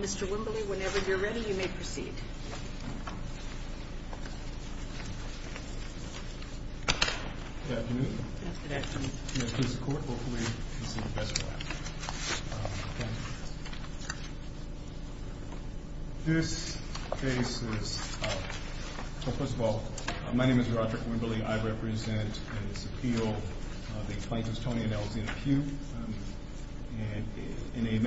Mr. Wimbley, whenever you're ready, you may proceed. Mr. Wimbley, I represent in this appeal the plaintiffs, Tony and Elizabeth Pugh, in a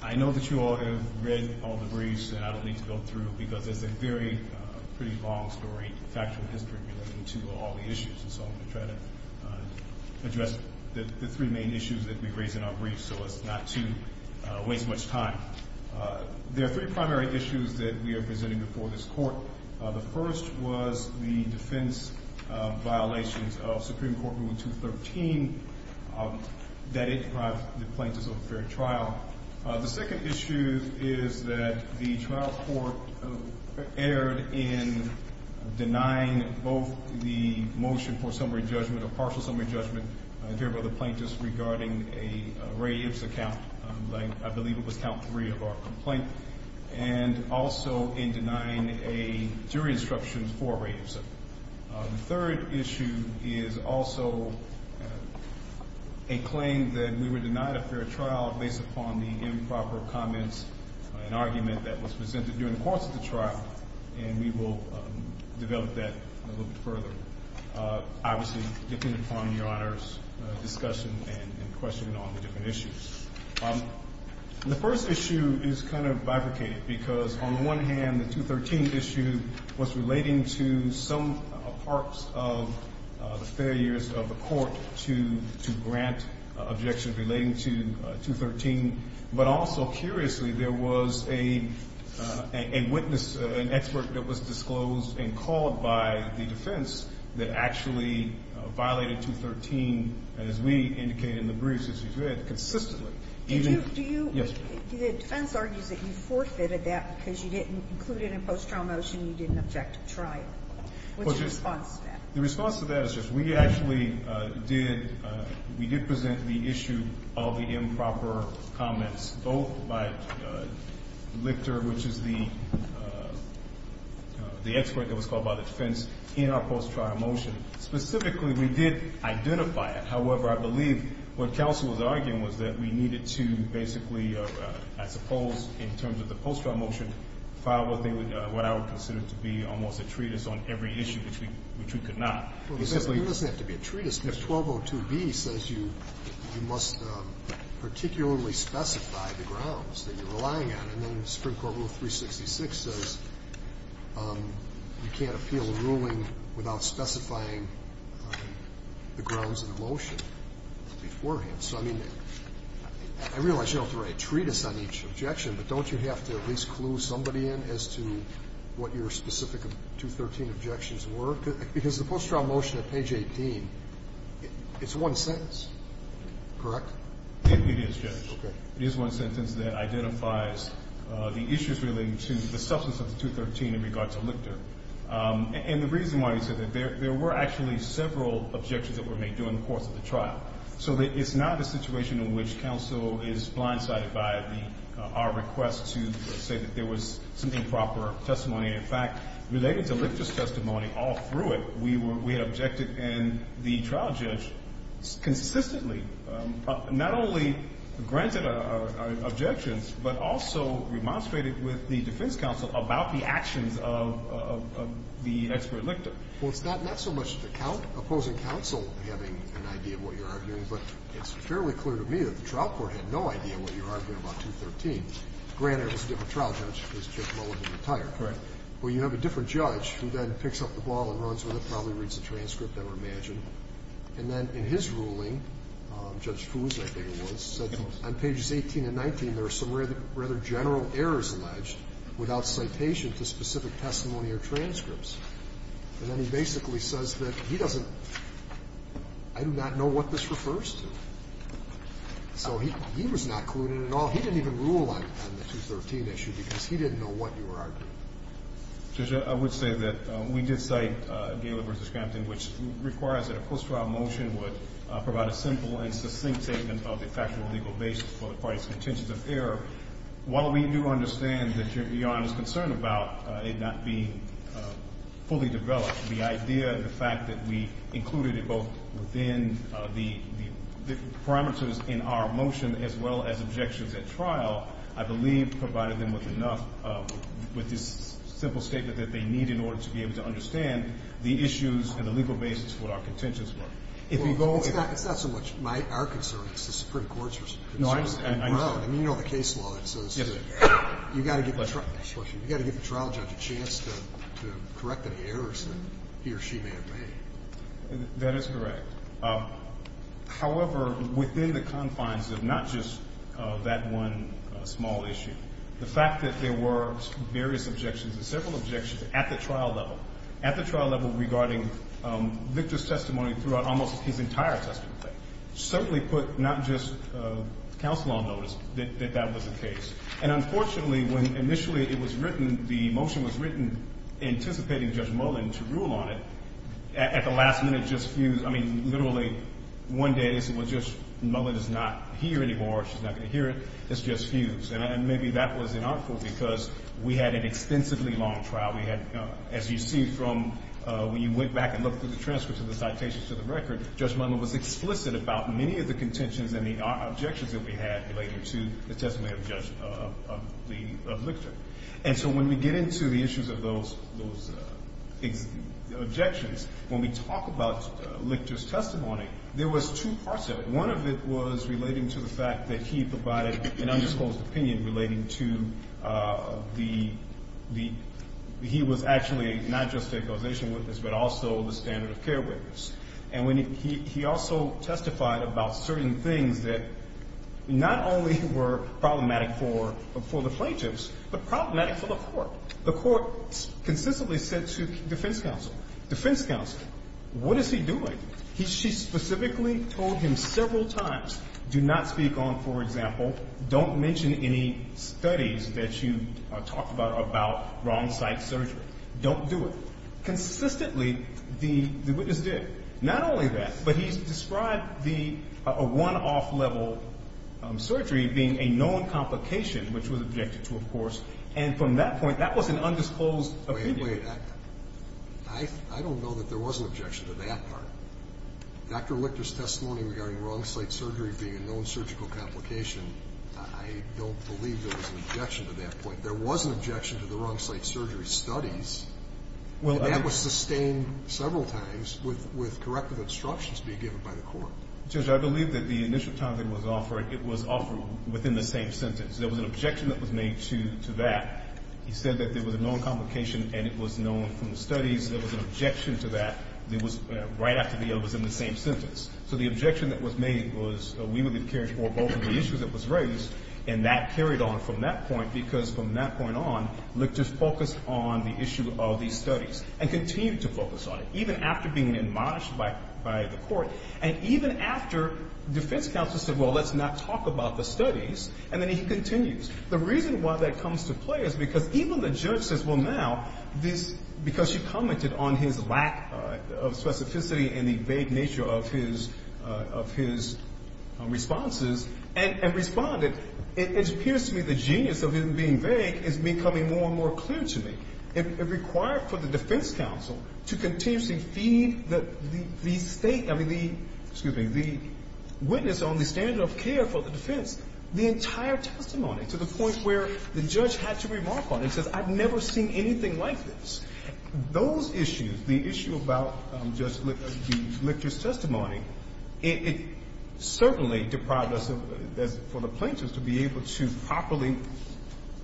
I know that you all have read all the briefs, and I don't need to go through them, because it's a very pretty long story, factual history, relating to all the issues, and so I'm going to try to address the three main issues that we raise in our briefs so as not to waste much time. There are three primary issues that we are presenting before this Court. The first was the defense violations of Supreme Court Rule 213 that it deprived the plaintiffs of a fair trial. The second issue is that the trial court erred in denying both the motion for summary judgment or partial summary judgment in favor of the plaintiffs regarding a Ray Ipsa count, I believe it was count three of our complaint, and also in denying a jury instruction for Ray Ipsa. The third issue is also a claim that we were denied a fair trial based upon the improper comments and argument that was presented during the course of the trial, and we will develop that a little bit further, obviously, depending upon Your Honor's discussion and questioning on the different issues. The first issue is kind of bifurcated because on the one hand, the 213 issue was relating to some parts of the failures of the court to grant objections relating to 213, but also curiously, there was a witness, an expert that was disclosed and called by the defense that actually violated 213, as we indicated in the briefs, as you said, consistently. Even yesterday. Do you – the defense argues that you forfeited that because you didn't include it in post-trial motion, you didn't object to trial. What's your response to that? The response to that is just we actually did – we did present the issue of the improper comments, both by Lichter, which is the expert that was called by the defense, in our post-trial motion. Specifically, we did identify it. However, I believe what counsel was arguing was that we needed to basically, I suppose, in terms of the post-trial motion, file what I would consider to be almost a treatise on every issue which we could not. Well, it doesn't have to be a treatise. If 1202B says you must particularly specify the grounds that you're relying on, and then Supreme Court Rule 366 says you can't appeal a ruling without specifying the grounds of the motion beforehand. So, I mean, I realize you don't have to write a treatise on each objection, but don't you have to at least clue somebody in as to what your specific 213 objections were? Because the post-trial motion at page 18, it's one sentence, correct? It is, Judge. Okay. It is one sentence that identifies the issues relating to the substance of the 213 in regard to Lichter. And the reason why I said that, there were actually several objections that were made during the course of the trial. So it's not a situation in which counsel is blindsided by the – our request to say that there was some improper testimony. In fact, related to Lichter's testimony all through it, we were – we had objected and the trial judge consistently not only granted our objections, but also remonstrated with the defense counsel about the actions of the expert Lichter. Well, it's not so much the opposing counsel having an idea of what you're arguing, but it's fairly clear to me that the trial court had no idea what you're arguing about 213. Granted, it was a different trial judge. It was Chip Mulligan, retired. Right. Well, you have a different judge who then picks up the ball and runs with it, probably reads the transcript, I would imagine. And then in his ruling, Judge Foos, I think it was, said on pages 18 and 19, there are some rather general errors alleged without citation to specific testimony or transcripts. And then he basically says that he doesn't – I do not know what this refers to. So he was not clued in at all. He didn't even rule on the 213 issue because he didn't know what you were arguing. Judge, I would say that we did cite Galev v. Scampton, which requires that a post-trial motion would provide a simple and succinct statement of the factual legal basis for the parties' contentions of error. While we do understand that Your Honor is concerned about it not being fully developed, the idea and the fact that we included it both within the parameters in our motion as well as objections at trial, I believe, provided them with enough, with this simple statement that they need in order to be able to understand the issues and the legal basis for what our contentions were. It's not so much our concern, it's the Supreme Court's concern. No, I understand. I mean, you know the case law. You've got to give the trial judge a chance to correct any errors that he or she may have made. That is correct. However, within the confines of not just that one small issue, the fact that there were various objections and several objections at the trial level, at the trial level regarding Victor's testimony throughout almost his entire testimony, certainly put not just counsel on notice that that was the case. And unfortunately, when initially it was written, the motion was written anticipating Judge Mullen to rule on it, at the last minute it just fused. I mean, literally one day it was just Mullen is not here anymore, she's not going to hear it. It just fused. And maybe that was in our fault because we had an extensively long trial. We had, as you see from when you went back and looked at the transcripts of the citations to the record, Judge Mullen was explicit about many of the contentions and the objections that we had related to the testimony of Judge, of Victor. And so when we get into the issues of those objections, when we talk about Victor's testimony, there was two parts of it. One of it was relating to the fact that he provided an undisclosed opinion relating to the, he was actually not just a causation witness but also the standard of care witness. And he also testified about certain things that not only were problematic for the plaintiffs but problematic for the court. The court consistently said to defense counsel, defense counsel, what is he doing? She specifically told him several times, do not speak on, for example, don't mention any studies that you talked about about wrong site surgery. Don't do it. Consistently, the witness did. Not only that, but he described the one off-level surgery being a known complication which was objected to, of course. And from that point, that was an undisclosed opinion. Wait, wait. I don't know that there was an objection to that part. Dr. Lichter's testimony regarding wrong site surgery being a known surgical complication, I don't believe there was an objection to that point. There was an objection to the wrong site surgery studies, and that was sustained several times with corrective instructions being given by the court. Judge, I believe that the initial time it was offered, it was offered within the same sentence. There was an objection that was made to that. He said that there was a known complication and it was known from the studies. There was an objection to that. It was right after the other was in the same sentence. So the objection that was made was we would have cared for both of the issues that was raised, and that carried on from that point, because from that point on, Lichter focused on the issue of the studies and continued to focus on it, even after being admonished by the court. And even after defense counsel said, well, let's not talk about the studies, and then he continues. The reason why that comes to play is because even the judge says, well, now, because she commented on his lack of specificity and the vague nature of his responses and responded, it appears to me the genius of him being vague is becoming more and more clear to me. It required for the defense counsel to continuously feed the State, I mean, the witness on the standard of care for the defense, the entire testimony, to the point where the judge had to remark on it and said, I've never seen anything like this. Those issues, the issue about Judge Lichter's testimony, it certainly deprived us, for the plaintiffs, to be able to properly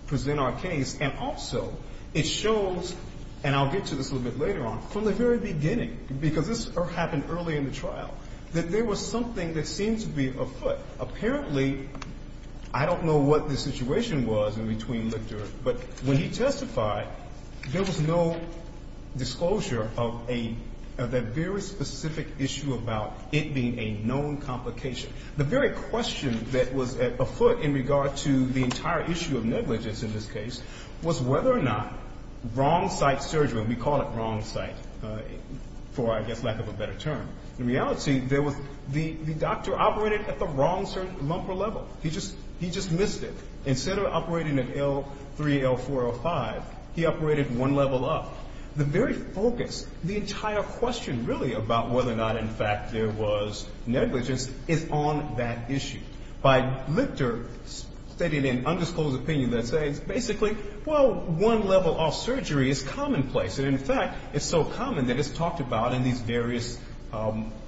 present our case. And also it shows, and I'll get to this a little bit later on, from the very beginning, because this happened early in the trial, that there was something that seemed to be afoot. Apparently, I don't know what the situation was in between Lichter, but when he testified, there was no disclosure of a very specific issue about it being a known complication. The very question that was afoot in regard to the entire issue of negligence in this case was whether or not wrong site surgery, we call it wrong site for, I guess, lack of a better term. In reality, there was the doctor operated at the wrong lumper level. He just missed it. Instead of operating at L3, L4, L5, he operated one level up. The very focus, the entire question, really, about whether or not, in fact, there was negligence is on that issue. By Lichter stating an undisclosed opinion, let's say, it's basically, well, one level off surgery is commonplace. And, in fact, it's so common that it's talked about in these various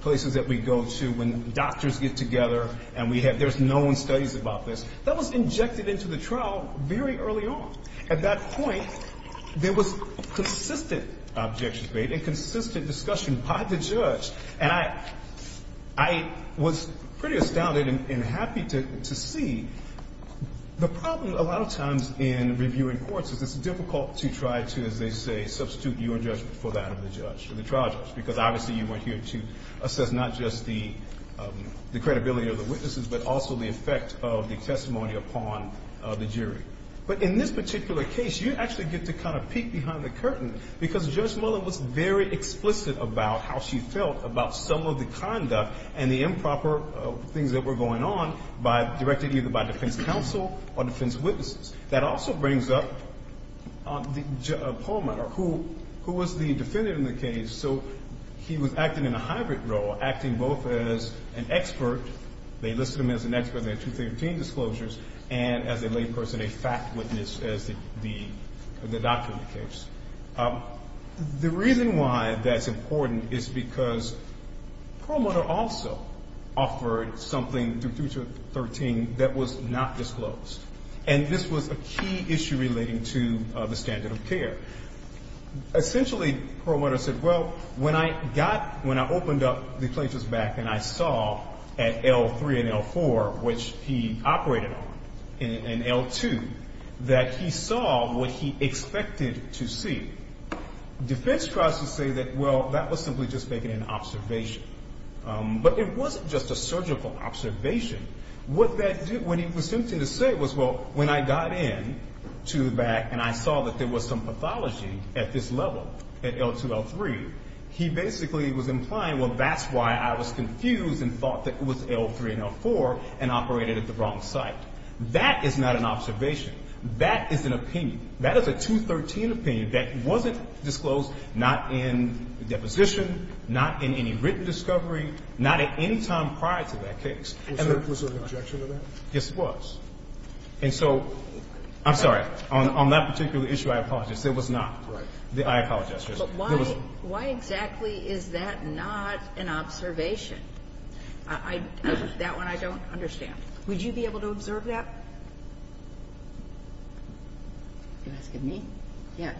places that we go to when doctors get together and we have, there's known studies about this. That was injected into the trial very early on. At that point, there was consistent objection to it and consistent discussion by the judge. And I was pretty astounded and happy to see the problem a lot of times in reviewing courts is it's difficult to try to, as they say, substitute your judgment for that of the judge, the trial judge, because obviously you weren't here to assess not just the credibility of the witnesses but also the effect of the testimony upon the jury. But in this particular case, you actually get to kind of peek behind the curtain because Judge Mueller was very explicit about how she felt about some of the conduct and the improper things that were going on by, directed either by defense counsel or defense witnesses. That also brings up Paul Miller, who was the defendant in the case. So he was acting in a hybrid role, acting both as an expert, they listed him as an expert in their 2013 disclosures, and as a layperson, a fact witness as the doctor in the case. The reason why that's important is because Paul Miller also offered something through 2013 that was not disclosed. And this was a key issue relating to the standard of care. Essentially, Paul Miller said, well, when I got, when I opened up the plaintiff's back and I saw at L3 and L4, which he operated on, and L2, that he saw what he expected to see defense tries to say that, well, that was simply just making an observation. But it wasn't just a surgical observation. What that did, what he was attempting to say was, well, when I got in to the back and I saw that there was some pathology at this level, at L2, L3, he basically was implying, well, that's why I was confused and thought that it was L3 and L4 and operated at the wrong site. That is not an observation. That is an opinion. That is a 2013 opinion that wasn't disclosed, not in the deposition, not in any written discovery, not at any time prior to that case. Was there an objection to that? Yes, there was. And so, I'm sorry. On that particular issue, I apologize. There was not. Right. I apologize. But why, why exactly is that not an observation? That one I don't understand. Would you be able to observe that? You're asking me? Yeah.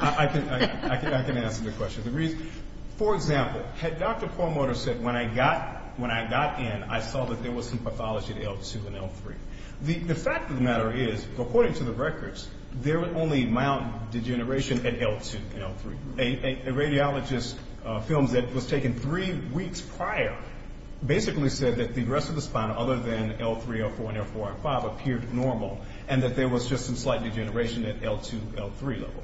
I can answer the question. The reason, for example, had Dr. Kornmutter said, when I got in, I saw that there was some pathology at L2 and L3. The fact of the matter is, according to the records, there was only mild degeneration at L2 and L3. A radiologist films that was taken three weeks prior basically said that the rest of the spine, other than L3, L4, and L5, appeared normal, and that there was just some slight degeneration at L2, L3 level.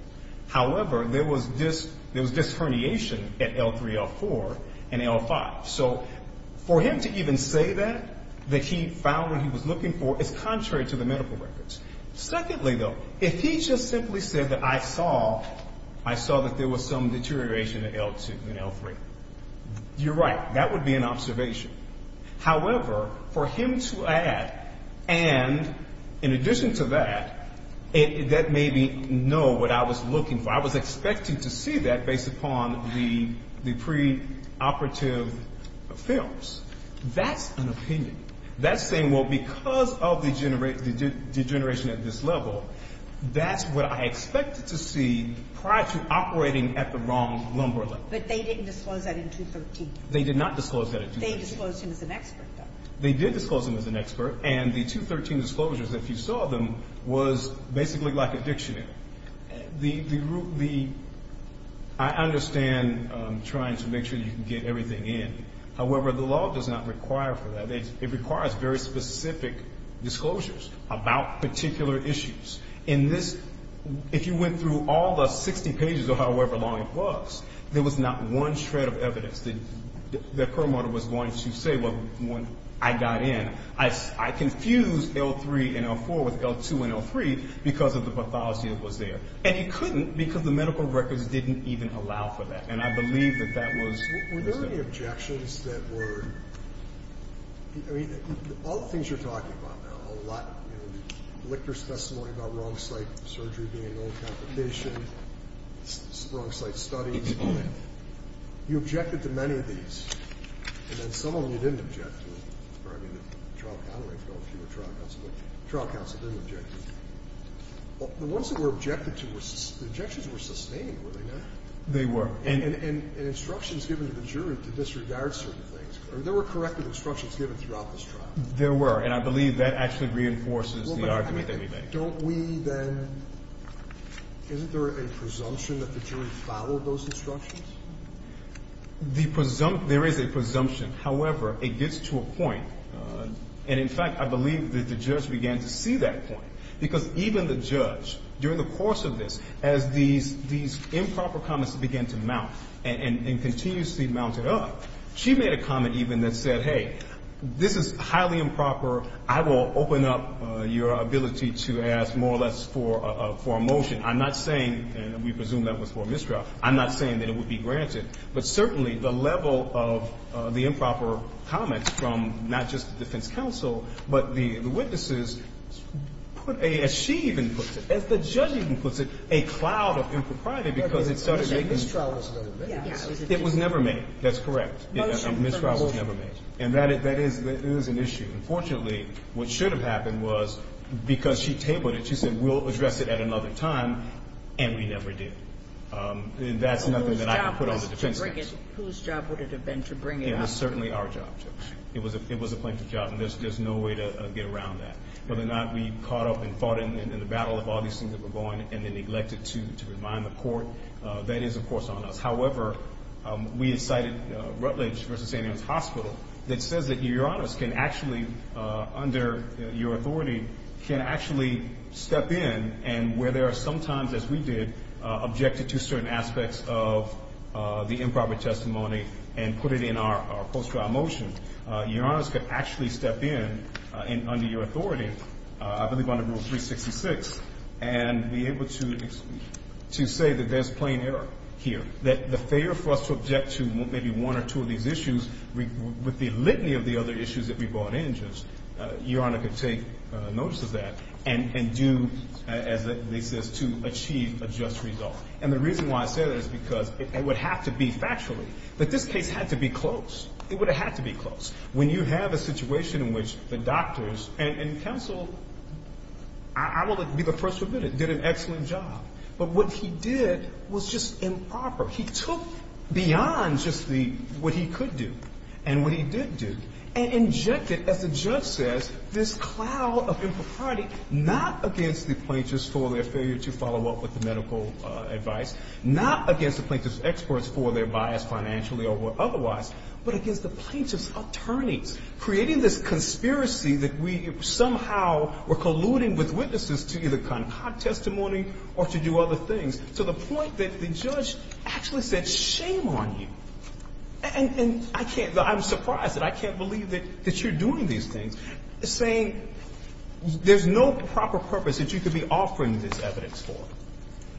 However, there was disherniation at L3, L4, and L5. So for him to even say that, that he found what he was looking for, is contrary to the medical records. Secondly, though, if he just simply said that I saw, I saw that there was some deterioration at L2 and L3. You're right. That would be an observation. However, for him to add, and in addition to that, that made me know what I was looking for. I was expecting to see that based upon the preoperative films. That's an opinion. That's saying, well, because of the degeneration at this level, that's what I expected to see prior to operating at the wrong lumbar level. But they didn't disclose that at L2 and L3. They did not disclose that at L2 and L3. They disclosed him as an expert, though. They did disclose him as an expert, and the 213 disclosures, if you saw them, was basically like a dictionary. The group, the – I understand trying to make sure you can get everything in. However, the law does not require for that. It requires very specific disclosures about particular issues. In this – if you went through all the 60 pages, or however long it was, there was not one shred of evidence. The – that Perlmutter was going to say when I got in. I confused L3 and L4 with L2 and L3 because of the pathology that was there. And he couldn't because the medical records didn't even allow for that, and I believe that that was – Were there any objections that were – I mean, all the things you're talking about now, a lot, you know, Lichter's testimony about wrong site surgery being an old competition, wrong site studies. You objected to many of these, and then some of them you didn't object to. I mean, the trial counsel didn't object to them. The ones that were objected to were – the objections were sustained, were they not? They were. And instructions given to the jury to disregard certain things. I mean, there were corrective instructions given throughout this trial. There were, and I believe that actually reinforces the argument that we made. Don't we then – isn't there a presumption that the jury followed those instructions? The – there is a presumption. However, it gets to a point, and in fact, I believe that the judge began to see that point because even the judge, during the course of this, as these improper comments began to mount and continuously mounted up, she made a comment even that said, hey, this is highly improper. I will open up your ability to ask more or less for a motion. I'm not saying – and we presume that was for a mistrial. I'm not saying that it would be granted. But certainly the level of the improper comments from not just the defense counsel, but the witnesses put a – as she even puts it, as the judge even puts it, a cloud of impropriety because it started a mistrial. It was never made. That's correct. A mistrial was never made. And that is an issue. Unfortunately, what should have happened was because she tabled it, she said, we'll address it at another time, and we never did. That's nothing that I can put on the defense counsel. Whose job was it to bring it – whose job would it have been to bring it up? It was certainly our job, Judge. It was a plaintiff's job, and there's no way to get around that. Whether or not we caught up and fought in the battle of all these things that were going and then neglected to remind the court, that is, of course, on us. However, we had cited Rutledge v. St. Ann's Hospital that says that your Honor's can actually, under your authority, can actually step in and where there are sometimes, as we did, objected to certain aspects of the improper testimony and put it in our post-trial motion, your Honor's could actually step in under your authority, I believe under Rule 366, and be able to say that there's plain error here, that the failure for us to object to maybe one or two of these issues with the litany of the other issues that we brought in, Judge, your Honor could take notice of that and do, as they say, to achieve a just result. And the reason why I say that is because it would have to be factually that this case had to be closed. It would have had to be closed. When you have a situation in which the doctors and counsel, I will be the first to admit it, did an excellent job. But what he did was just improper. He took beyond just what he could do and what he did do and injected, as the judge says, this cloud of impropriety not against the plaintiffs for their failure to follow up with the medical advice, not against the plaintiffs' experts for their bias financially or otherwise, but against the plaintiffs' attorneys, creating this conspiracy that we somehow were colluding with witnesses to either concoct testimony or to do other things, to the point that the judge actually said, shame on you. And I can't – I'm surprised that I can't believe that you're doing these things, saying there's no proper purpose that you could be offering this evidence for.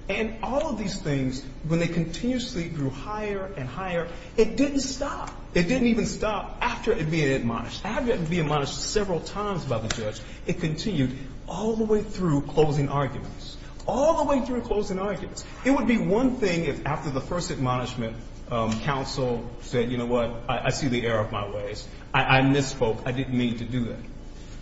And all of these things, when they continuously grew higher and higher, it didn't stop. It didn't even stop after it had been admonished. After it had been admonished several times by the judge, it continued all the way through closing arguments. All the way through closing arguments. It would be one thing if after the first admonishment, counsel said, you know what, I see the error of my ways. I misspoke. I didn't mean to do that.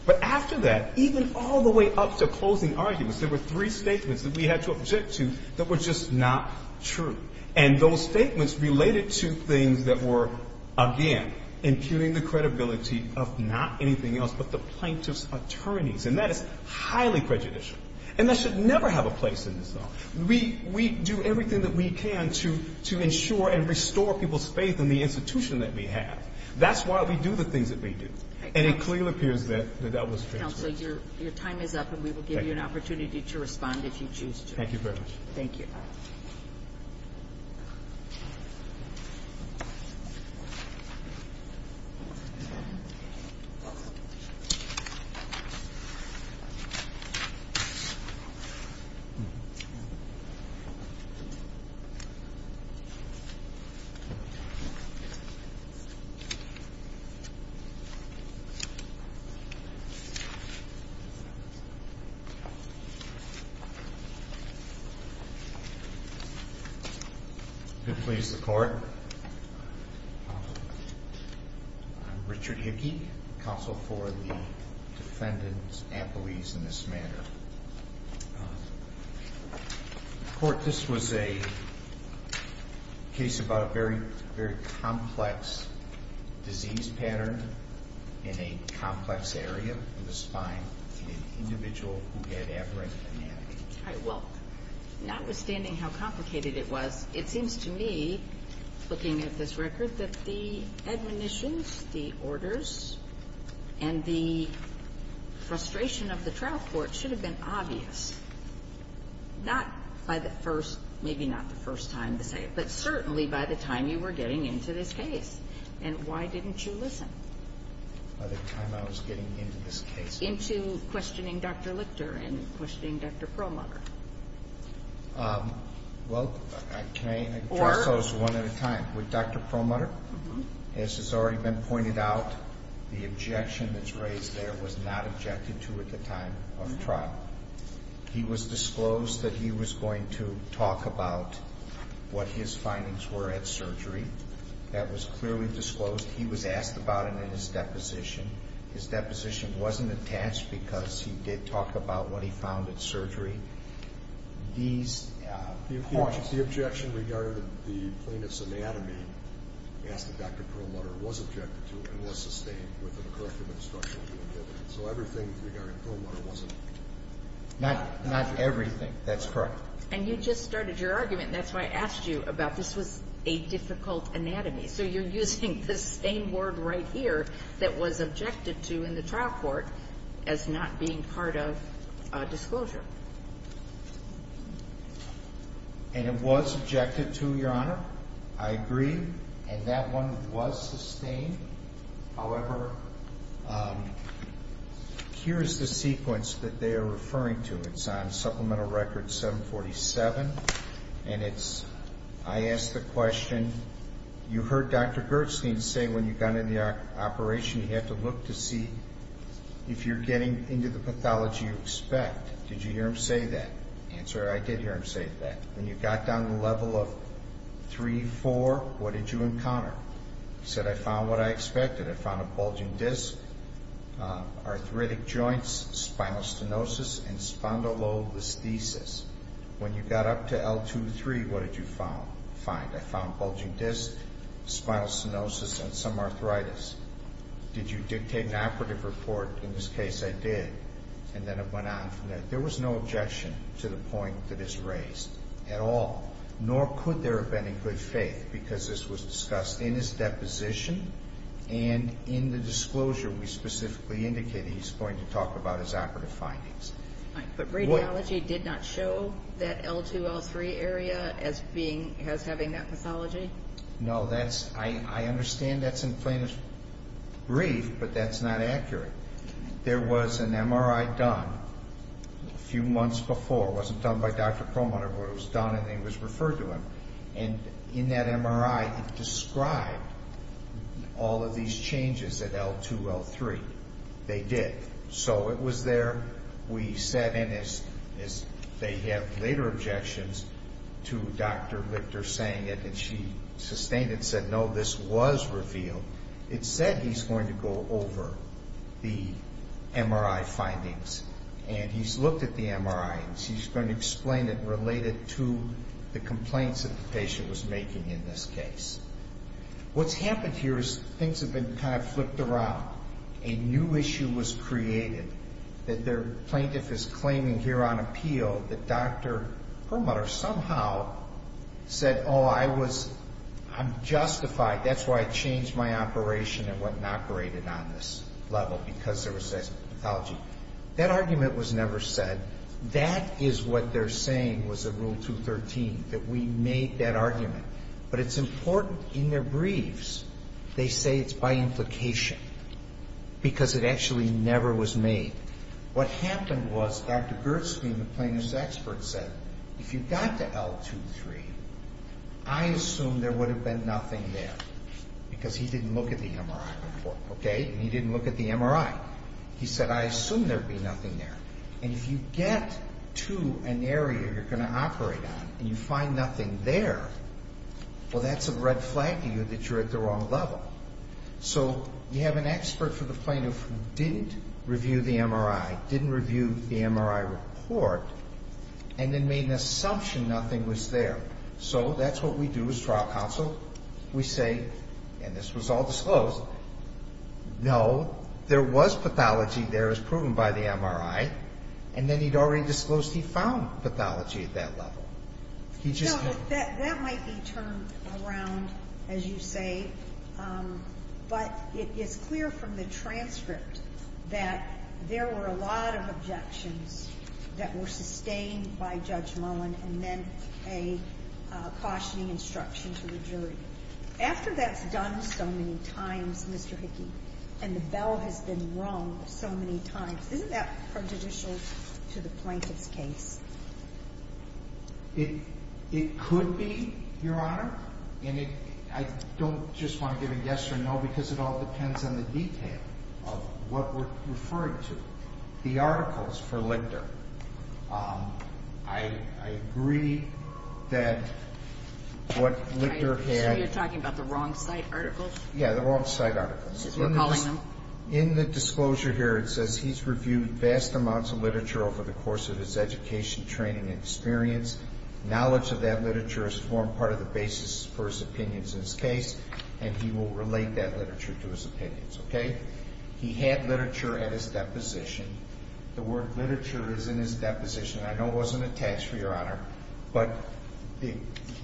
But after that, even all the way up to closing arguments, there were three statements that we had to object to that were just not true. And those statements related to things that were, again, impugning the credibility of not anything else but the plaintiffs' attorneys. And that is highly prejudicial. And that should never have a place in this law. We do everything that we can to ensure and restore people's faith in the institution that we have. That's why we do the things that we do. And it clearly appears that that was transferred. Counsel, your time is up, and we will give you an opportunity to respond if you choose to. Thank you very much. Thank you. I'm Richard Hickey, counsel for the defendants' appellees in this matter. Court, this was a case about a very complex disease pattern in a complex area of the spine in an individual who had aberrant anatomy. All right. Well, notwithstanding how complicated it was, it seems to me, looking at this record, that the admonitions, the orders, and the frustration of the trial court should have been obvious, not by the first, maybe not the first time to say it, but certainly by the time you were getting into this case. And why didn't you listen? By the time I was getting into this case. Into questioning Dr. Lichter and questioning Dr. Promutter. Well, can I address those one at a time? With Dr. Promutter, as has already been pointed out, the objection that's raised there was not objected to at the time of trial. He was disclosed that he was going to talk about what his findings were at surgery. That was clearly disclosed. He was asked about it in his deposition. His deposition wasn't attached because he did talk about what he found at surgery. The objection regarding the plaintiff's anatomy, as Dr. Promutter was objected to, was sustained with the corrective instruction he was given. So everything regarding Promutter wasn't objected to. Not everything. That's correct. And you just started your argument. That's why I asked you about this was a difficult anatomy. So you're using the same word right here that was objected to in the trial court as not being part of disclosure. And it was objected to, Your Honor. I agree. And that one was sustained. However, here is the sequence that they are referring to. It's on Supplemental Record 747. And it's, I ask the question, you heard Dr. Gerstein say when you got into the operation, you had to look to see if you're getting into the pathology you expect. Did you hear him say that? Answer, I did hear him say that. When you got down to the level of 3, 4, what did you encounter? He said, I found what I expected. I found a bulging disc, arthritic joints, spinal stenosis, and spondylolisthesis. When you got up to L2, 3, what did you find? I found bulging disc, spinal stenosis, and some arthritis. Did you dictate an operative report? In this case, I did. And then I went on from there. There was no objection to the point that is raised at all. Nor could there have been in good faith because this was discussed in his deposition and in the disclosure we specifically indicated he's going to talk about his operative findings. But radiology did not show that L2, L3 area as having that pathology? No, I understand that's in plaintiff's brief, but that's not accurate. There was an MRI done a few months before. It wasn't done by Dr. Perlmutter, but it was done and it was referred to him. And in that MRI, it described all of these changes at L2, L3. They did. So it was there. We sat in as they have later objections to Dr. Lichter saying it, and she sustained it and said, no, this was revealed. It said he's going to go over the MRI findings, and he's looked at the MRI and he's going to explain it related to the complaints that the patient was making in this case. What's happened here is things have been kind of flipped around. A new issue was created that the plaintiff is claiming here on appeal that Dr. Perlmutter somehow said, oh, I'm justified. That's why I changed my operation and went and operated on this level because there was this pathology. That argument was never said. That is what they're saying was in Rule 213, that we made that argument. But it's important in their briefs. They say it's by implication because it actually never was made. What happened was Dr. Gertzke, the plaintiff's expert, said, if you got to L2, L3, I assume there would have been nothing there because he didn't look at the MRI report, okay, and he didn't look at the MRI. He said, I assume there would be nothing there. And if you get to an area you're going to operate on and you find nothing there, well, that's a red flag to you that you're at the wrong level. So you have an expert for the plaintiff who didn't review the MRI, didn't review the MRI report, and then made an assumption nothing was there. So that's what we do as trial counsel. We say, and this was all disclosed, no, there was pathology there as proven by the MRI, and then he'd already disclosed he found pathology at that level. That might be turned around, as you say, but it is clear from the transcript that there were a lot of objections that were sustained by Judge Mullen and then a cautioning instruction to the jury. After that's done so many times, Mr. Hickey, and the bell has been rung so many times, isn't that prejudicial to the plaintiff's case? It could be, Your Honor. And I don't just want to give a yes or no because it all depends on the detail of what we're referring to. The articles for Lichter, I agree that what Lichter had. So you're talking about the wrong site articles? Yeah, the wrong site articles. We're calling them. In the disclosure here it says he's reviewed vast amounts of literature over the course of his education, training, and experience. Knowledge of that literature has formed part of the basis for his opinions in his case, and he will relate that literature to his opinions, okay? He had literature at his deposition. The word Lichter is in his deposition. I know it wasn't attached, Your Honor, but the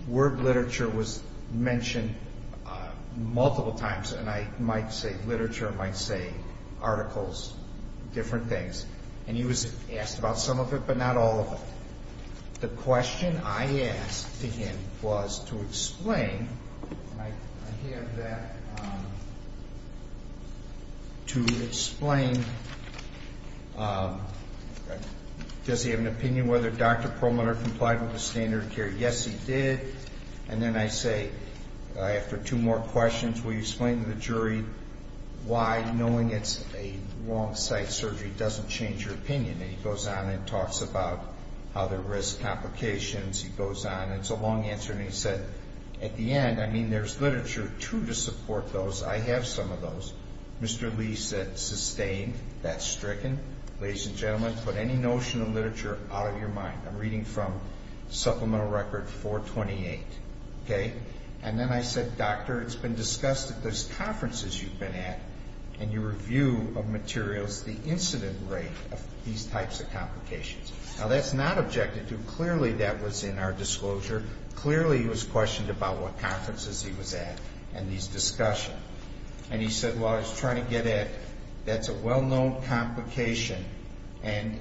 word Lichter was mentioned multiple times, and I might say literature, I might say articles, different things. And he was asked about some of it but not all of it. The question I asked to him was to explain, and I have that, to explain, does he have an opinion whether Dr. Perlmaner complied with the standard of care? Yes, he did. And then I say, after two more questions, will you explain to the jury why knowing it's a wrong site surgery doesn't change your opinion? And he goes on and talks about how there are risk complications. He goes on, and it's a long answer, and he said, at the end, I mean, there's literature, too, to support those. I have some of those. Mr. Lee said sustained, that's stricken. Ladies and gentlemen, put any notion of literature out of your mind. I'm reading from Supplemental Record 428, okay? And then I said, Doctor, it's been discussed at those conferences you've been at, and you review of materials the incident rate of these types of complications. Now, that's not objected to. Clearly, that was in our disclosure. Clearly, he was questioned about what conferences he was at and these discussions. And he said, well, I was trying to get at that's a well-known complication. And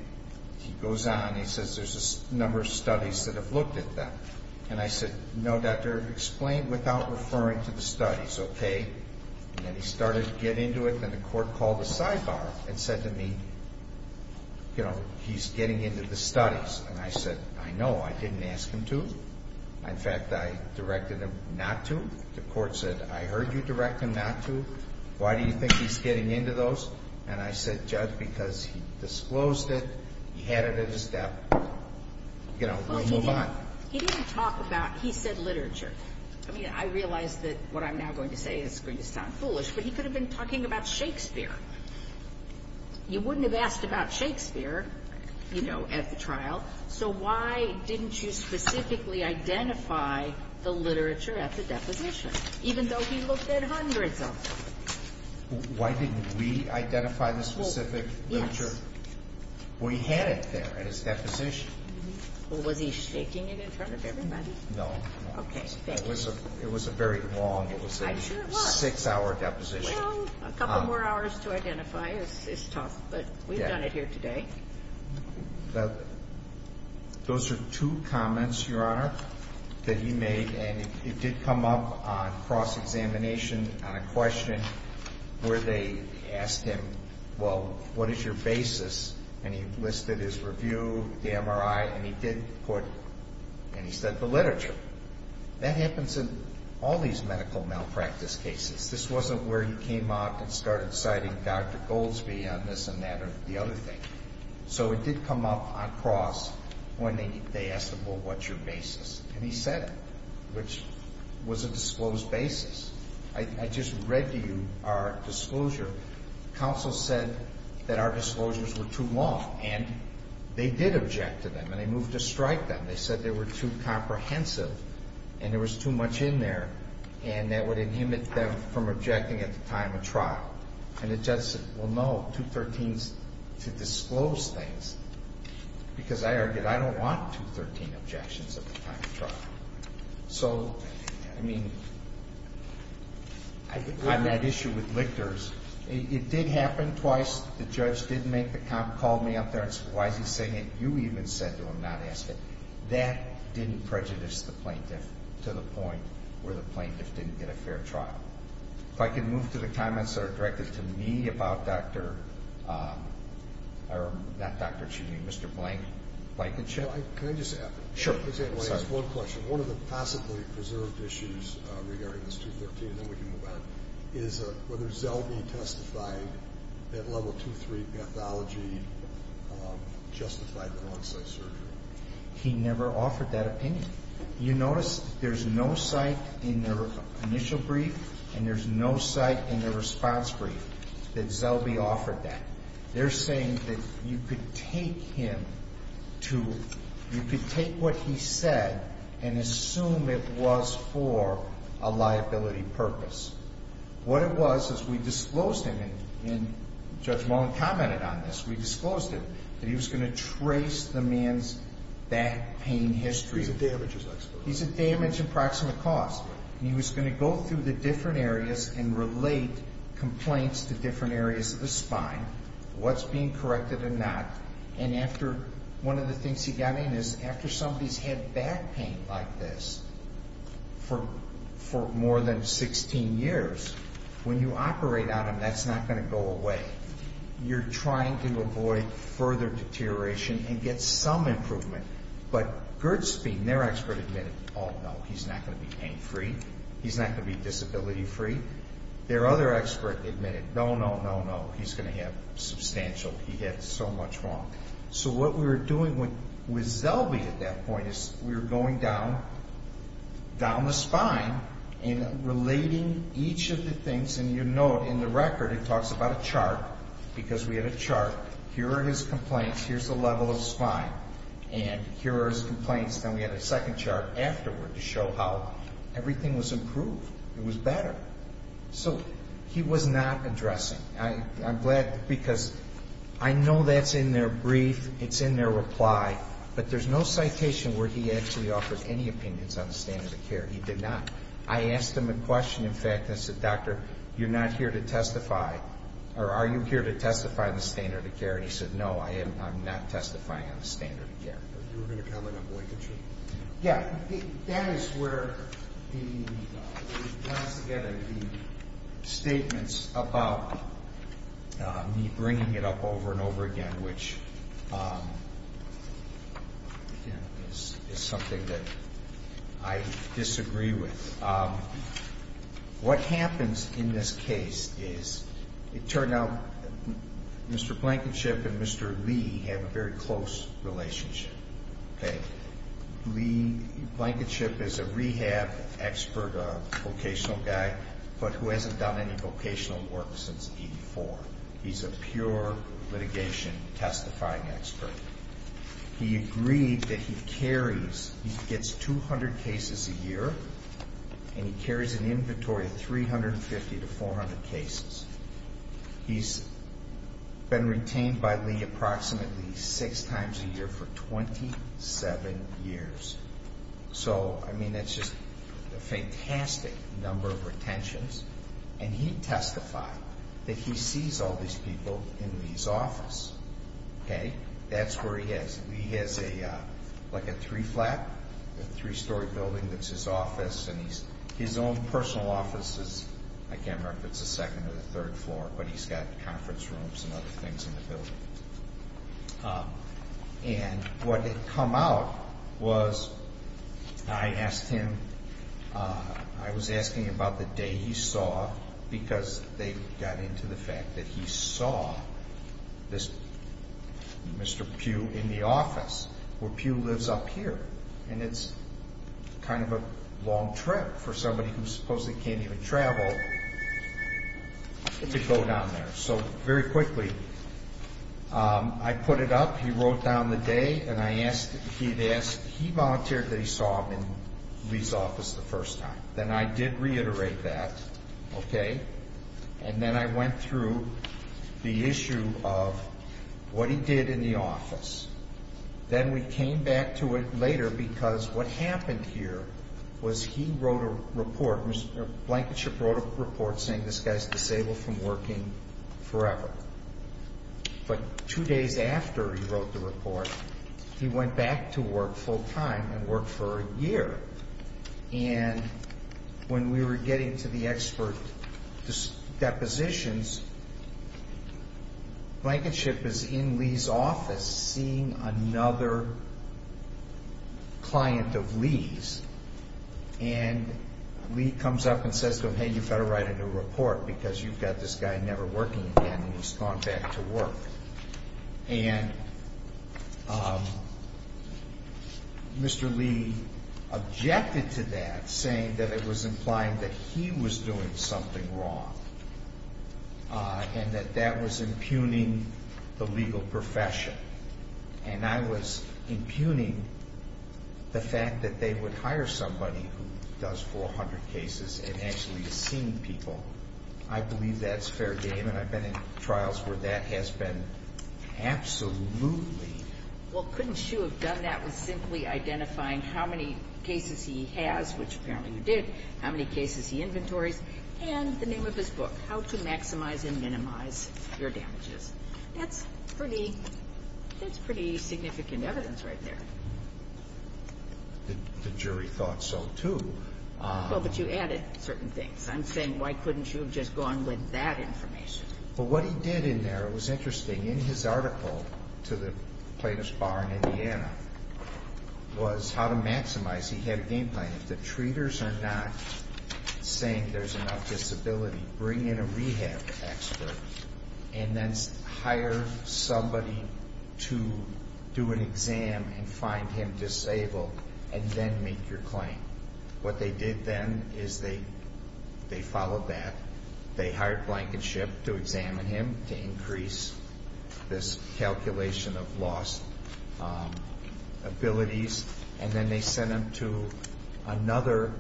he goes on and he says there's a number of studies that have looked at that. And I said, no, Doctor, explain without referring to the studies, okay? And then he started to get into it, and the court called a sidebar and said to me, you know, he's getting into the studies. And I said, I know. I didn't ask him to. In fact, I directed him not to. The court said, I heard you direct him not to. Why do you think he's getting into those? And I said, Judge, because he disclosed it. He had it in his debt. You know, we'll move on. He didn't talk about he said literature. I mean, I realize that what I'm now going to say is going to sound foolish, but he could have been talking about Shakespeare. You wouldn't have asked about Shakespeare, you know, at the trial. So why didn't you specifically identify the literature at the deposition, even though he looked at hundreds of them? Why didn't we identify the specific literature? We had it there at his deposition. Well, was he shaking it in front of everybody? No. Okay. It was a very long. I'm sure it was. It was a six-hour deposition. Well, a couple more hours to identify is tough, but we've done it here today. Those are two comments, Your Honor, that he made, and it did come up on cross-examination on a question where they asked him, well, what is your basis? And he listed his review, the MRI, and he did put, and he said the literature. That happens in all these medical malpractice cases. This wasn't where he came out and started citing Dr. Goldsby on this and that or the other thing. So it did come up on cross when they asked him, well, what's your basis? And he said it, which was a disclosed basis. I just read to you our disclosure. Counsel said that our disclosures were too long, and they did object to them, and they moved to strike them. They said they were too comprehensive and there was too much in there, and that would inhibit them from objecting at the time of trial. And the judge said, well, no, 213 is to disclose things, because I argued I don't want 213 objections at the time of trial. So, I mean, on that issue with lictors, it did happen twice. The judge did make the comment, called me up there and said, why is he saying it? You even said to him not to ask it. That didn't prejudice the plaintiff to the point where the plaintiff didn't get a fair trial. If I could move to the comments that are directed to me about Dr. ‑‑ or not Dr., excuse me, Mr. Blank, Blankenship. Can I just add? Sure. I just want to ask one question. One of the possibly preserved issues regarding this 213, and then we can move on, is whether Zellbee testified that level 23 pathology justified the one‑site surgery. He never offered that opinion. You notice there's no site in their initial brief, and there's no site in their response brief that Zellbee offered that. They're saying that you could take him to ‑‑ you could take what he said and assume it was for a liability purpose. What it was is we disclosed him, and Judge Mullen commented on this, we disclosed him, that he was going to trace the man's back pain history. He's a damage expert. He's a damage approximate cause. He was going to go through the different areas and relate complaints to different areas of the spine, what's being corrected and not, and after one of the things he got in is after somebody's had back pain like this for more than 16 years, when you operate on them, that's not going to go away. You're trying to avoid further deterioration and get some improvement. But Gertzbein, their expert, admitted, oh, no, he's not going to be pain free. He's not going to be disability free. Their other expert admitted, no, no, no, no, he's going to have substantial, he had so much wrong. So what we were doing with Zellbee at that point is we were going down the spine and relating each of the things, and you note in the record it talks about a chart because we had a chart. Here are his complaints. Here's the level of spine. And here are his complaints. Then we had a second chart afterward to show how everything was improved. It was better. So he was not addressing. I'm glad because I know that's in their brief. It's in their reply. But there's no citation where he actually offers any opinions on the standard of care. He did not. I asked him a question. In fact, I said, Doctor, you're not here to testify, or are you here to testify on the standard of care? And he said, no, I'm not testifying on the standard of care. You were going to comment on boycott treatment. Yeah. That is where the, once again, the statements about me bringing it up over and over again, which is something that I disagree with. What happens in this case is it turned out Mr. Blankenship and Mr. Lee have a very close relationship. Lee Blankenship is a rehab expert, a vocational guy, but who hasn't done any vocational work since 84. He's a pure litigation testifying expert. He agreed that he carries, he gets 200 cases a year, and he carries an inventory of 350 to 400 cases. He's been retained by Lee approximately six times a year for 27 years. So, I mean, that's just a fantastic number of retentions. And he testified that he sees all these people in Lee's office. Okay? That's where he is. Lee has like a three-flat, a three-story building that's his office. And his own personal office is, I can't remember if it's the second or the third floor, but he's got conference rooms and other things in the building. And what had come out was I asked him, I was asking about the day he saw, because they got into the fact that he saw this Mr. Pugh in the office, where Pugh lives up here. And it's kind of a long trip for somebody who supposedly can't even travel to go down there. So, very quickly, I put it up. He wrote down the day, and I asked, he had asked, he volunteered that he saw him in Lee's office the first time. Then I did reiterate that. Okay? And then I went through the issue of what he did in the office. Then we came back to it later because what happened here was he wrote a report, Blankenship wrote a report saying this guy's disabled from working forever. But two days after he wrote the report, he went back to work full-time and worked for a year. And when we were getting to the expert depositions, Blankenship is in Lee's office seeing another client of Lee's. And Lee comes up and says to him, hey, you better write a new report because you've got this guy never working again, and he's gone back to work. And Mr. Lee objected to that, saying that it was implying that he was doing something wrong and that that was impugning the legal profession. And I was impugning the fact that they would hire somebody who does 400 cases and actually has seen people. I believe that's fair game, and I've been in trials where that has been absolutely. Well, couldn't you have done that with simply identifying how many cases he has, which apparently you did, how many cases he inventories, and the name of his book, How to Maximize and Minimize Your Damages? That's pretty significant evidence right there. The jury thought so, too. Well, but you added certain things. I'm saying why couldn't you have just gone with that information? Well, what he did in there, it was interesting. In his article to the plaintiff's bar in Indiana was how to maximize. He had a game plan. If the treaters are not saying there's enough disability, bring in a rehab expert and then hire somebody to do an exam and find him disabled and then make your claim. What they did then is they followed that. They hired Blankenship to examine him to increase this calculation of lost abilities, and then they sent him to another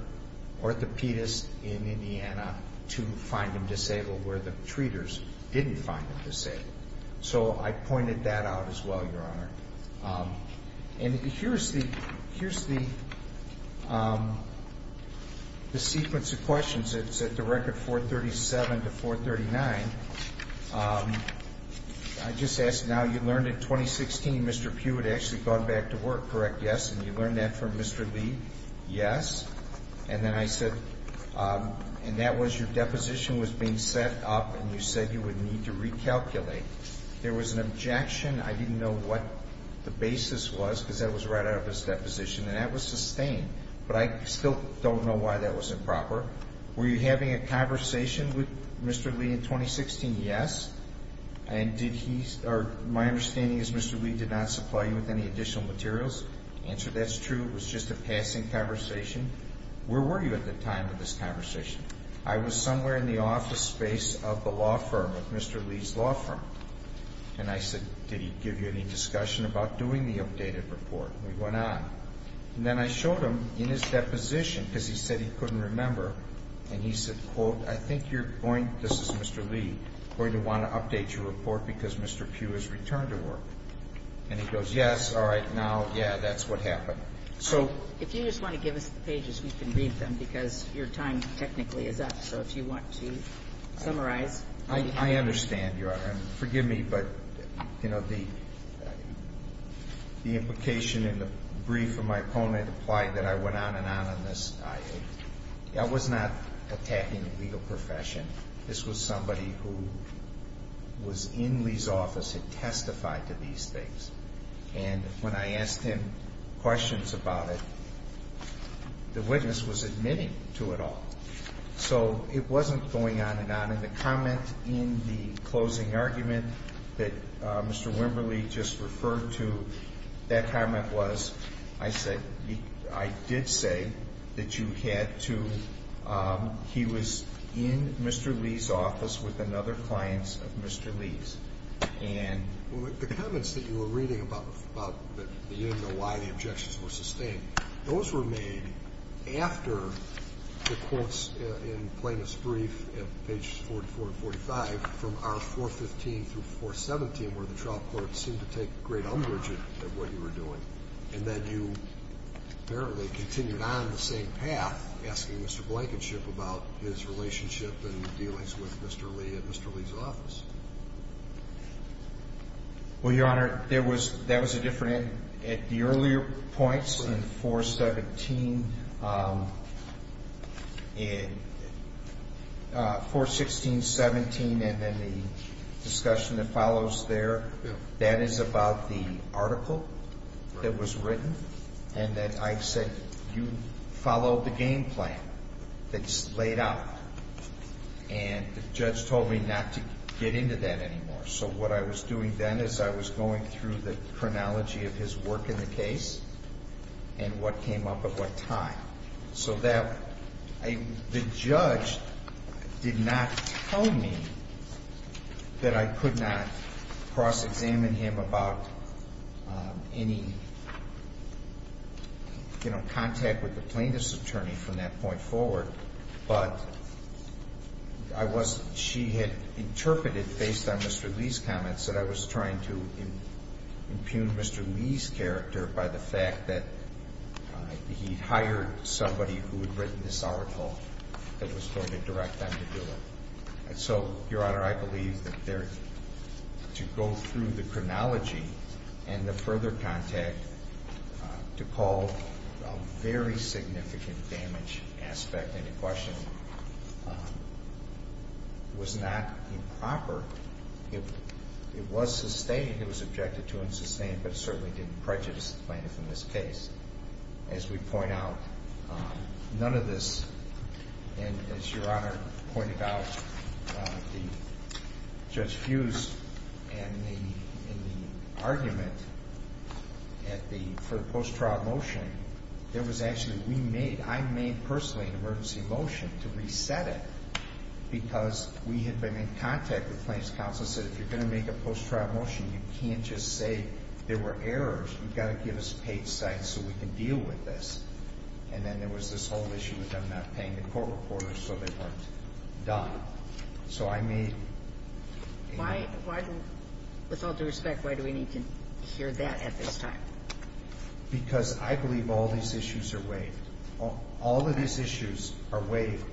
orthopedist in Indiana to find him disabled, where the treaters didn't find him disabled. So I pointed that out as well, Your Honor. And here's the sequence of questions. It's at the record 437 to 439. I just ask now, you learned in 2016 Mr. Pugh had actually gone back to work, correct? Yes. And you learned that from Mr. Lee? Yes. And then I said, and that was your deposition was being set up, and you said you would need to recalculate. There was an objection. I didn't know what the basis was because that was right out of his deposition, and that was sustained. But I still don't know why that was improper. Were you having a conversation with Mr. Lee in 2016? Yes. And did he, or my understanding is Mr. Lee did not supply you with any additional materials? Answer, that's true. It was just a passing conversation. Where were you at the time of this conversation? I was somewhere in the office space of the law firm, of Mr. Lee's law firm. And I said, did he give you any discussion about doing the updated report? And we went on. And then I showed him in his deposition, because he said he couldn't remember, and he said, quote, I think you're going, this is Mr. Lee, going to want to update your report because Mr. Pugh has returned to work. And he goes, yes, all right, now, yeah, that's what happened. If you just want to give us the pages, we can read them, because your time technically is up. So if you want to summarize. I understand, Your Honor, and forgive me, but, you know, the implication in the brief from my opponent implied that I went on and on on this. I was not attacking the legal profession. This was somebody who was in Lee's office and testified to these things. And when I asked him questions about it, the witness was admitting to it all. So it wasn't going on and on. And the comment in the closing argument that Mr. Wimberly just referred to, that comment was, I did say that you had to, he was in Mr. Lee's office with another client of Mr. Lee's. The comments that you were reading about, but you didn't know why the objections were sustained, those were made after the courts, in plainest brief, at pages 44 and 45, from R415 through 417, where the trial court seemed to take great umbrage at what you were doing, and that you apparently continued on the same path, asking Mr. Blankenship about his relationship and dealings with Mr. Lee at Mr. Lee's office. Well, Your Honor, there was, that was a different, at the earlier points, in 417, 416, 17, and then the discussion that follows there, that is about the article that was written, and that I said you followed the game plan that's laid out. And the judge told me not to get into that anymore. So what I was doing then is I was going through the chronology of his work in the case, and what came up at what time. So that, the judge did not tell me that I could not cross-examine him about any, you know, contact with the plaintiff's attorney from that point forward, but I was, she had interpreted, based on Mr. Lee's comments, that I was trying to impugn Mr. Lee's character by the fact that he'd hired somebody who had written this article that was going to direct them to do it. And so, Your Honor, I believe that there, to go through the chronology and the further contact to call a very significant damage aspect, any question, was not improper. It was sustained, it was objected to and sustained, but it certainly didn't prejudice the plaintiff in this case. As we point out, none of this, and as Your Honor pointed out, Judge Fuse and the argument for the post-trial motion, there was actually, we made, I made personally an emergency motion to reset it because we had been in contact with plaintiff's counsel and said if you're going to make a post-trial motion, you can't just say there were errors. You've got to give us paid sites so we can deal with this. And then there was this whole issue with them not paying the court reporters so they weren't done. So I made... With all due respect, why do we need to hear that at this time? Because I believe all these issues are waived. All of these issues are waived.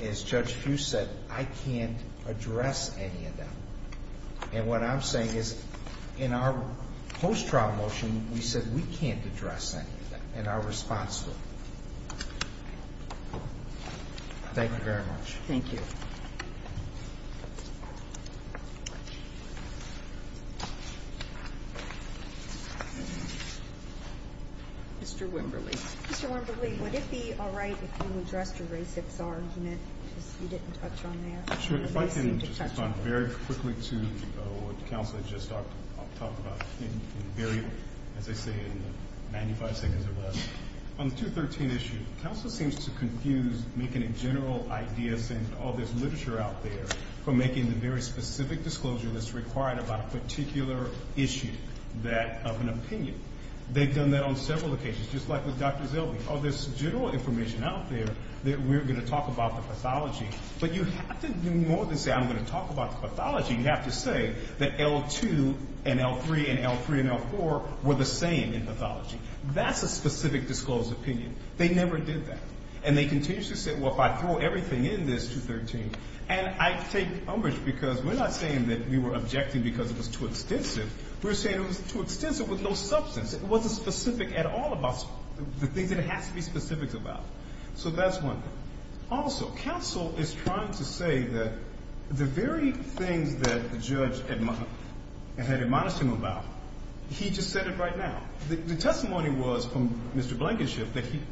As Judge Fuse said, I can't address any of them. And what I'm saying is in our post-trial motion, we said we can't address any of them and are responsible. Thank you very much. Thank you. Mr. Wimberly. Mr. Wimberly, would it be all right if you addressed Ray's argument because you didn't touch on that? If I can respond very quickly to what counsel had just talked about. As I say, in 95 seconds or less. On the 213 issue, counsel seems to confuse making a general idea, saying, oh, there's literature out there, for making the very specific disclosure that's required about a particular issue of an opinion. They've done that on several occasions, just like with Dr. Zeldin. Oh, there's general information out there that we're going to talk about the pathology. But you have to do more than say I'm going to talk about the pathology. You have to say that L2 and L3 and L3 and L4 were the same in pathology. That's a specific disclosed opinion. They never did that. And they continue to say, well, if I throw everything in this 213, and I take umbrage because we're not saying that we were objecting because it was too extensive. We're saying it was too extensive with no substance. It wasn't specific at all about the things that it has to be specific about. So that's one thing. Also, counsel is trying to say that the very things that the judge had admonished him about, he just said it right now. The testimony was from Mr. Blankenship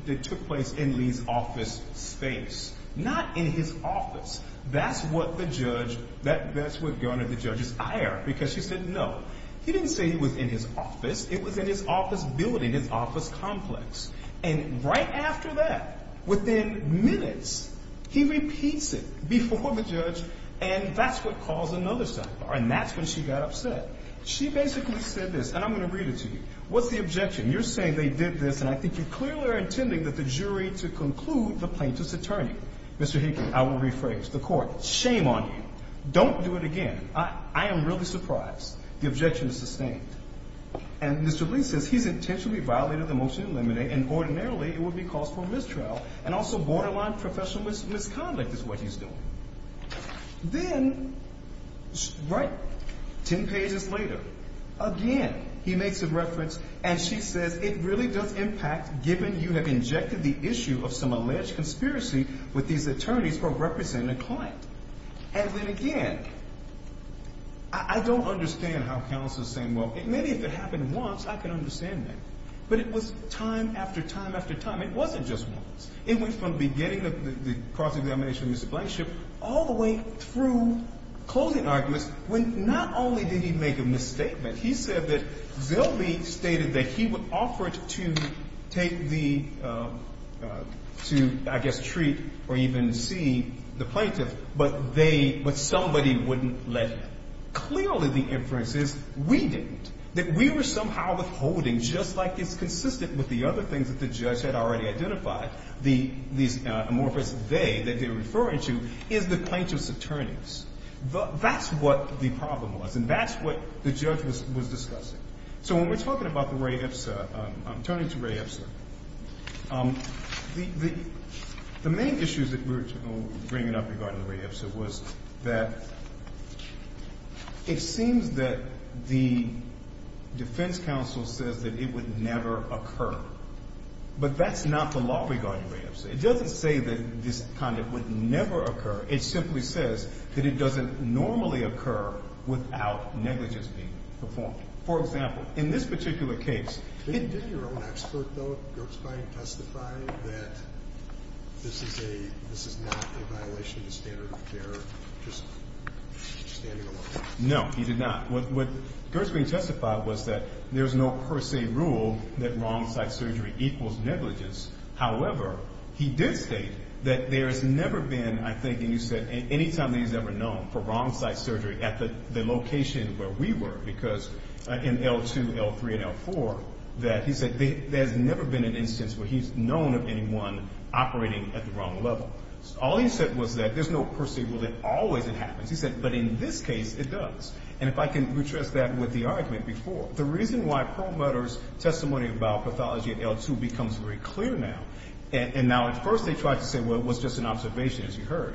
that took place in Lee's office space, not in his office. That's what garnered the judge's ire because she said no. He didn't say he was in his office. It was in his office building, his office complex. And right after that, within minutes, he repeats it before the judge, and that's what caused another sidebar, and that's when she got upset. She basically said this, and I'm going to read it to you. What's the objection? You're saying they did this, and I think you clearly are intending that the jury to conclude the plaintiff's attorney. Mr. Heaton, I will rephrase the court. Shame on you. Don't do it again. I am really surprised. The objection is sustained. And Mr. Lee says he's intentionally violated the motion to eliminate, and ordinarily it would be caused for mistrial, and also borderline professional misconduct is what he's doing. Then right 10 pages later, again, he makes a reference, and she says, It really does impact given you have injected the issue of some alleged conspiracy with these attorneys who are representing a client. And then again, I don't understand how counsel is saying, Well, maybe if it happened once, I can understand that. But it was time after time after time. It wasn't just once. It went from the beginning of the cross-examination of Mr. Blankenship all the way through closing arguments, when not only did he make a misstatement, he said that Zellbe stated that he would offer to take the, to I guess treat or even see the plaintiff, but somebody wouldn't let him. Clearly the inference is we didn't, that we were somehow withholding, just like it's consistent with the other things that the judge had already identified these amorphous they, that they were referring to is the plaintiff's attorneys. That's what the problem was. And that's what the judge was discussing. So when we're talking about the Ray Ipsa, I'm turning to Ray Ipsa. The main issues that we're bringing up regarding the Ray Ipsa was that it seems that the defense counsel says that it would never occur. But that's not the law regarding Ray Ipsa. It doesn't say that this kind of would never occur. It simply says that it doesn't normally occur without negligence being performed. For example, in this particular case. Did your own expert, though, Gertzbein testify that this is a, this is not a violation of the standard of care, just standing alone? No, he did not. What Gertzbein testified was that there's no per se rule that wrongs site surgery equals negligence. However, he did state that there has never been, I think, and you said, anytime that he's ever known for wrong site surgery at the location where we were, because in L2, L3, and L4, that he said there's never been an instance where he's known of anyone operating at the wrong level. All he said was that there's no per se rule that always it happens. He said, but in this case it does. And if I can retrace that with the argument before, the reason why Perlmutter's testimony about pathology at L2 becomes very clear now, and now at first they tried to say, well, it was just an observation, as you heard,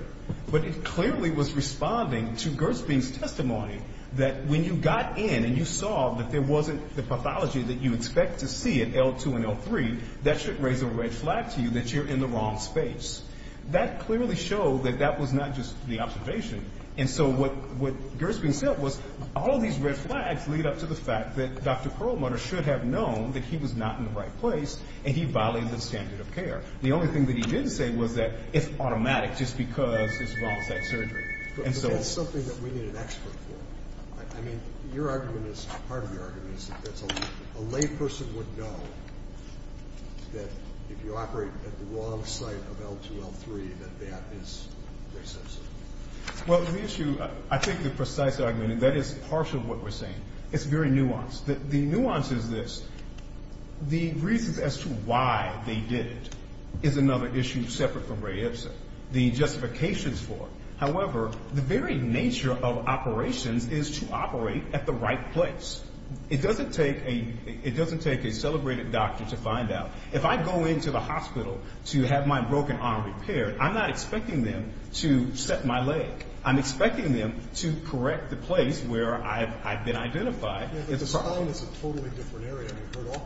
but it clearly was responding to Gertzbein's testimony that when you got in and you saw that there wasn't the pathology that you expect to see at L2 and L3, that should raise a red flag to you that you're in the wrong space. That clearly showed that that was not just the observation. And so what Gertzbein said was all these red flags lead up to the fact that Dr. Perlmutter should have known that he was not in the right place, and he violated the standard of care. The only thing that he didn't say was that it's automatic just because it's wrong site surgery. But that's something that we need an expert for. I mean, your argument is part of your argument is that a layperson would know that if you operate at the wrong site of L2, L3, that that is Ray Ibsen. Well, the issue, I think the precise argument, and that is partial to what we're saying, it's very nuanced. The nuance is this. The reasons as to why they did it is another issue separate from Ray Ibsen. The justification is for it. However, the very nature of operations is to operate at the right place. It doesn't take a celebrated doctor to find out. If I go into the hospital to have my broken arm repaired, I'm not expecting them to set my leg. I'm expecting them to correct the place where I've been identified. The spine is a totally different area. I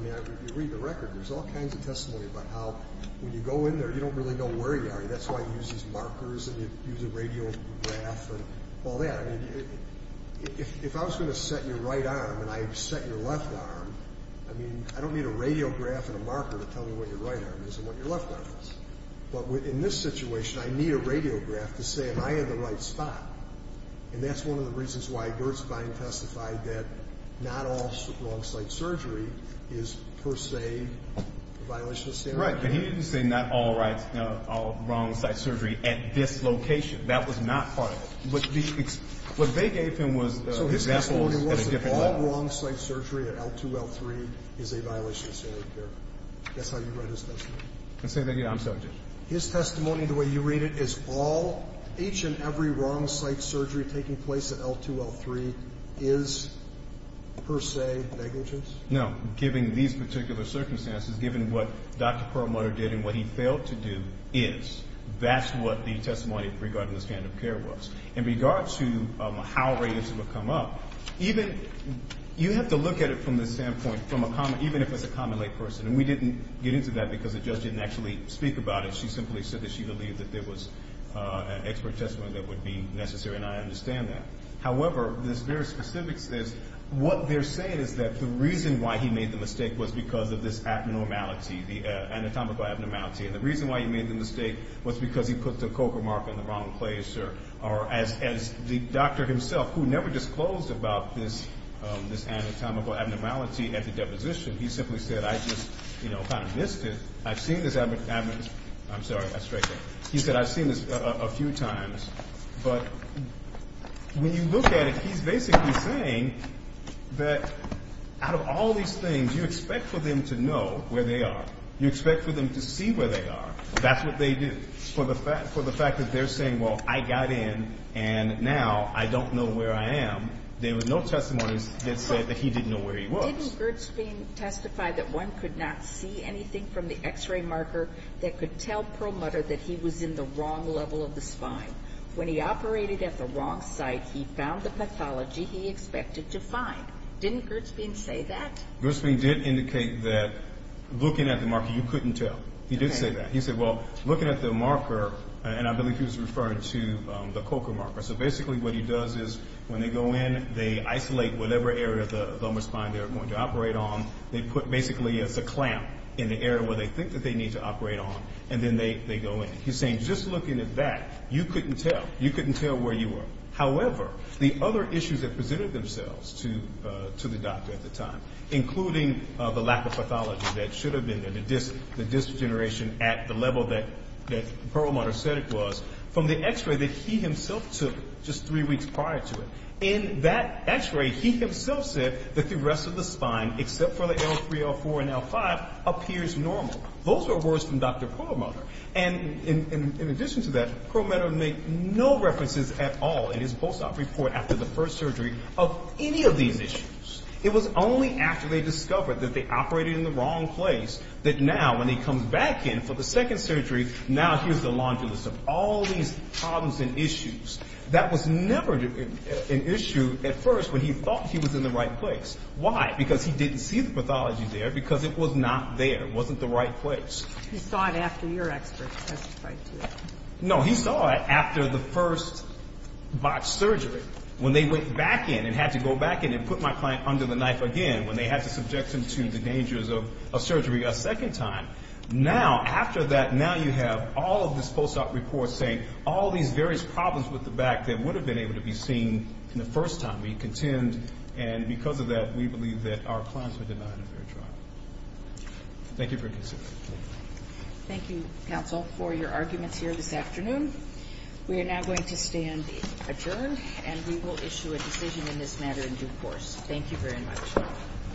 mean, you read the record. There's all kinds of testimony about how when you go in there, you don't really know where you are. That's why you use these markers and you use a radiograph and all that. I mean, if I was going to set your right arm and I set your left arm, I mean, I don't need a radiograph and a marker to tell me what your right arm is and what your left arm is. But in this situation, I need a radiograph to say am I in the right spot. And that's one of the reasons why Gerdspine testified that not all wrong site surgery is per se a violation of standard. Right, but he didn't say not all wrong site surgery at this location. That was not part of it. What they gave him was examples at a different level. All wrong site surgery at L2, L3 is a violation of standard of care. That's how you write his testimony. And say that, yeah, I'm subject. His testimony, the way you read it, is all, each and every wrong site surgery taking place at L2, L3 is per se negligence? No. Given these particular circumstances, given what Dr. Perlmutter did and what he failed to do is, that's what the testimony regarding the standard of care was. In regards to how radios would come up, even, you have to look at it from the standpoint, even if it's a common lay person, and we didn't get into that because the judge didn't actually speak about it. She simply said that she believed that there was an expert testimony that would be necessary, and I understand that. However, this very specific, what they're saying is that the reason why he made the mistake was because of this abnormality, the anatomical abnormality. And the reason why he made the mistake was because he put the coca marker in the wrong place, or as the doctor himself, who never disclosed about this anatomical abnormality at the deposition, he simply said, I just kind of missed it. I've seen this, I'm sorry, I straightened it. He said, I've seen this a few times. But when you look at it, he's basically saying that out of all these things, you expect for them to know where they are. You expect for them to see where they are. That's what they do. For the fact that they're saying, well, I got in, and now I don't know where I am, there were no testimonies that said that he didn't know where he was. Didn't Gertzbein testify that one could not see anything from the x-ray marker that could tell Perlmutter that he was in the wrong level of the spine? When he operated at the wrong site, he found the pathology he expected to find. Didn't Gertzbein say that? Gertzbein did indicate that looking at the marker, you couldn't tell. He did say that. He said, well, looking at the marker, and I believe he was referring to the COCA marker, so basically what he does is when they go in, they isolate whatever area of the lumbar spine they're going to operate on. They put basically a clamp in the area where they think that they need to operate on, and then they go in. He's saying just looking at that, you couldn't tell. You couldn't tell where you were. However, the other issues that presented themselves to the doctor at the time, including the lack of pathology that should have been there, the disc degeneration at the level that Perlmutter said it was, from the x-ray that he himself took just three weeks prior to it. In that x-ray, he himself said that the rest of the spine, except for the L3, L4, and L5, appears normal. Those are words from Dr. Perlmutter. And in addition to that, Perlmutter made no references at all in his post-op report after the first surgery of any of these issues. It was only after they discovered that they operated in the wrong place that now when he comes back in for the second surgery, now here's the laundry list of all these problems and issues. That was never an issue at first when he thought he was in the right place. Why? Because he didn't see the pathology there because it was not there. It wasn't the right place. He saw it after your experts testified to it. No, he saw it after the first botched surgery, when they went back in and had to go back in and put my client under the knife again, when they had to subject him to the dangers of surgery a second time. Now, after that, now you have all of this post-op report saying all these various problems with the back that would have been able to be seen the first time. We contend, and because of that, we believe that our clients were denied a fair trial. Thank you for your concern. Thank you, counsel, for your arguments here this afternoon. We are now going to stand adjourned, and we will issue a decision in this matter in due course. Thank you very much.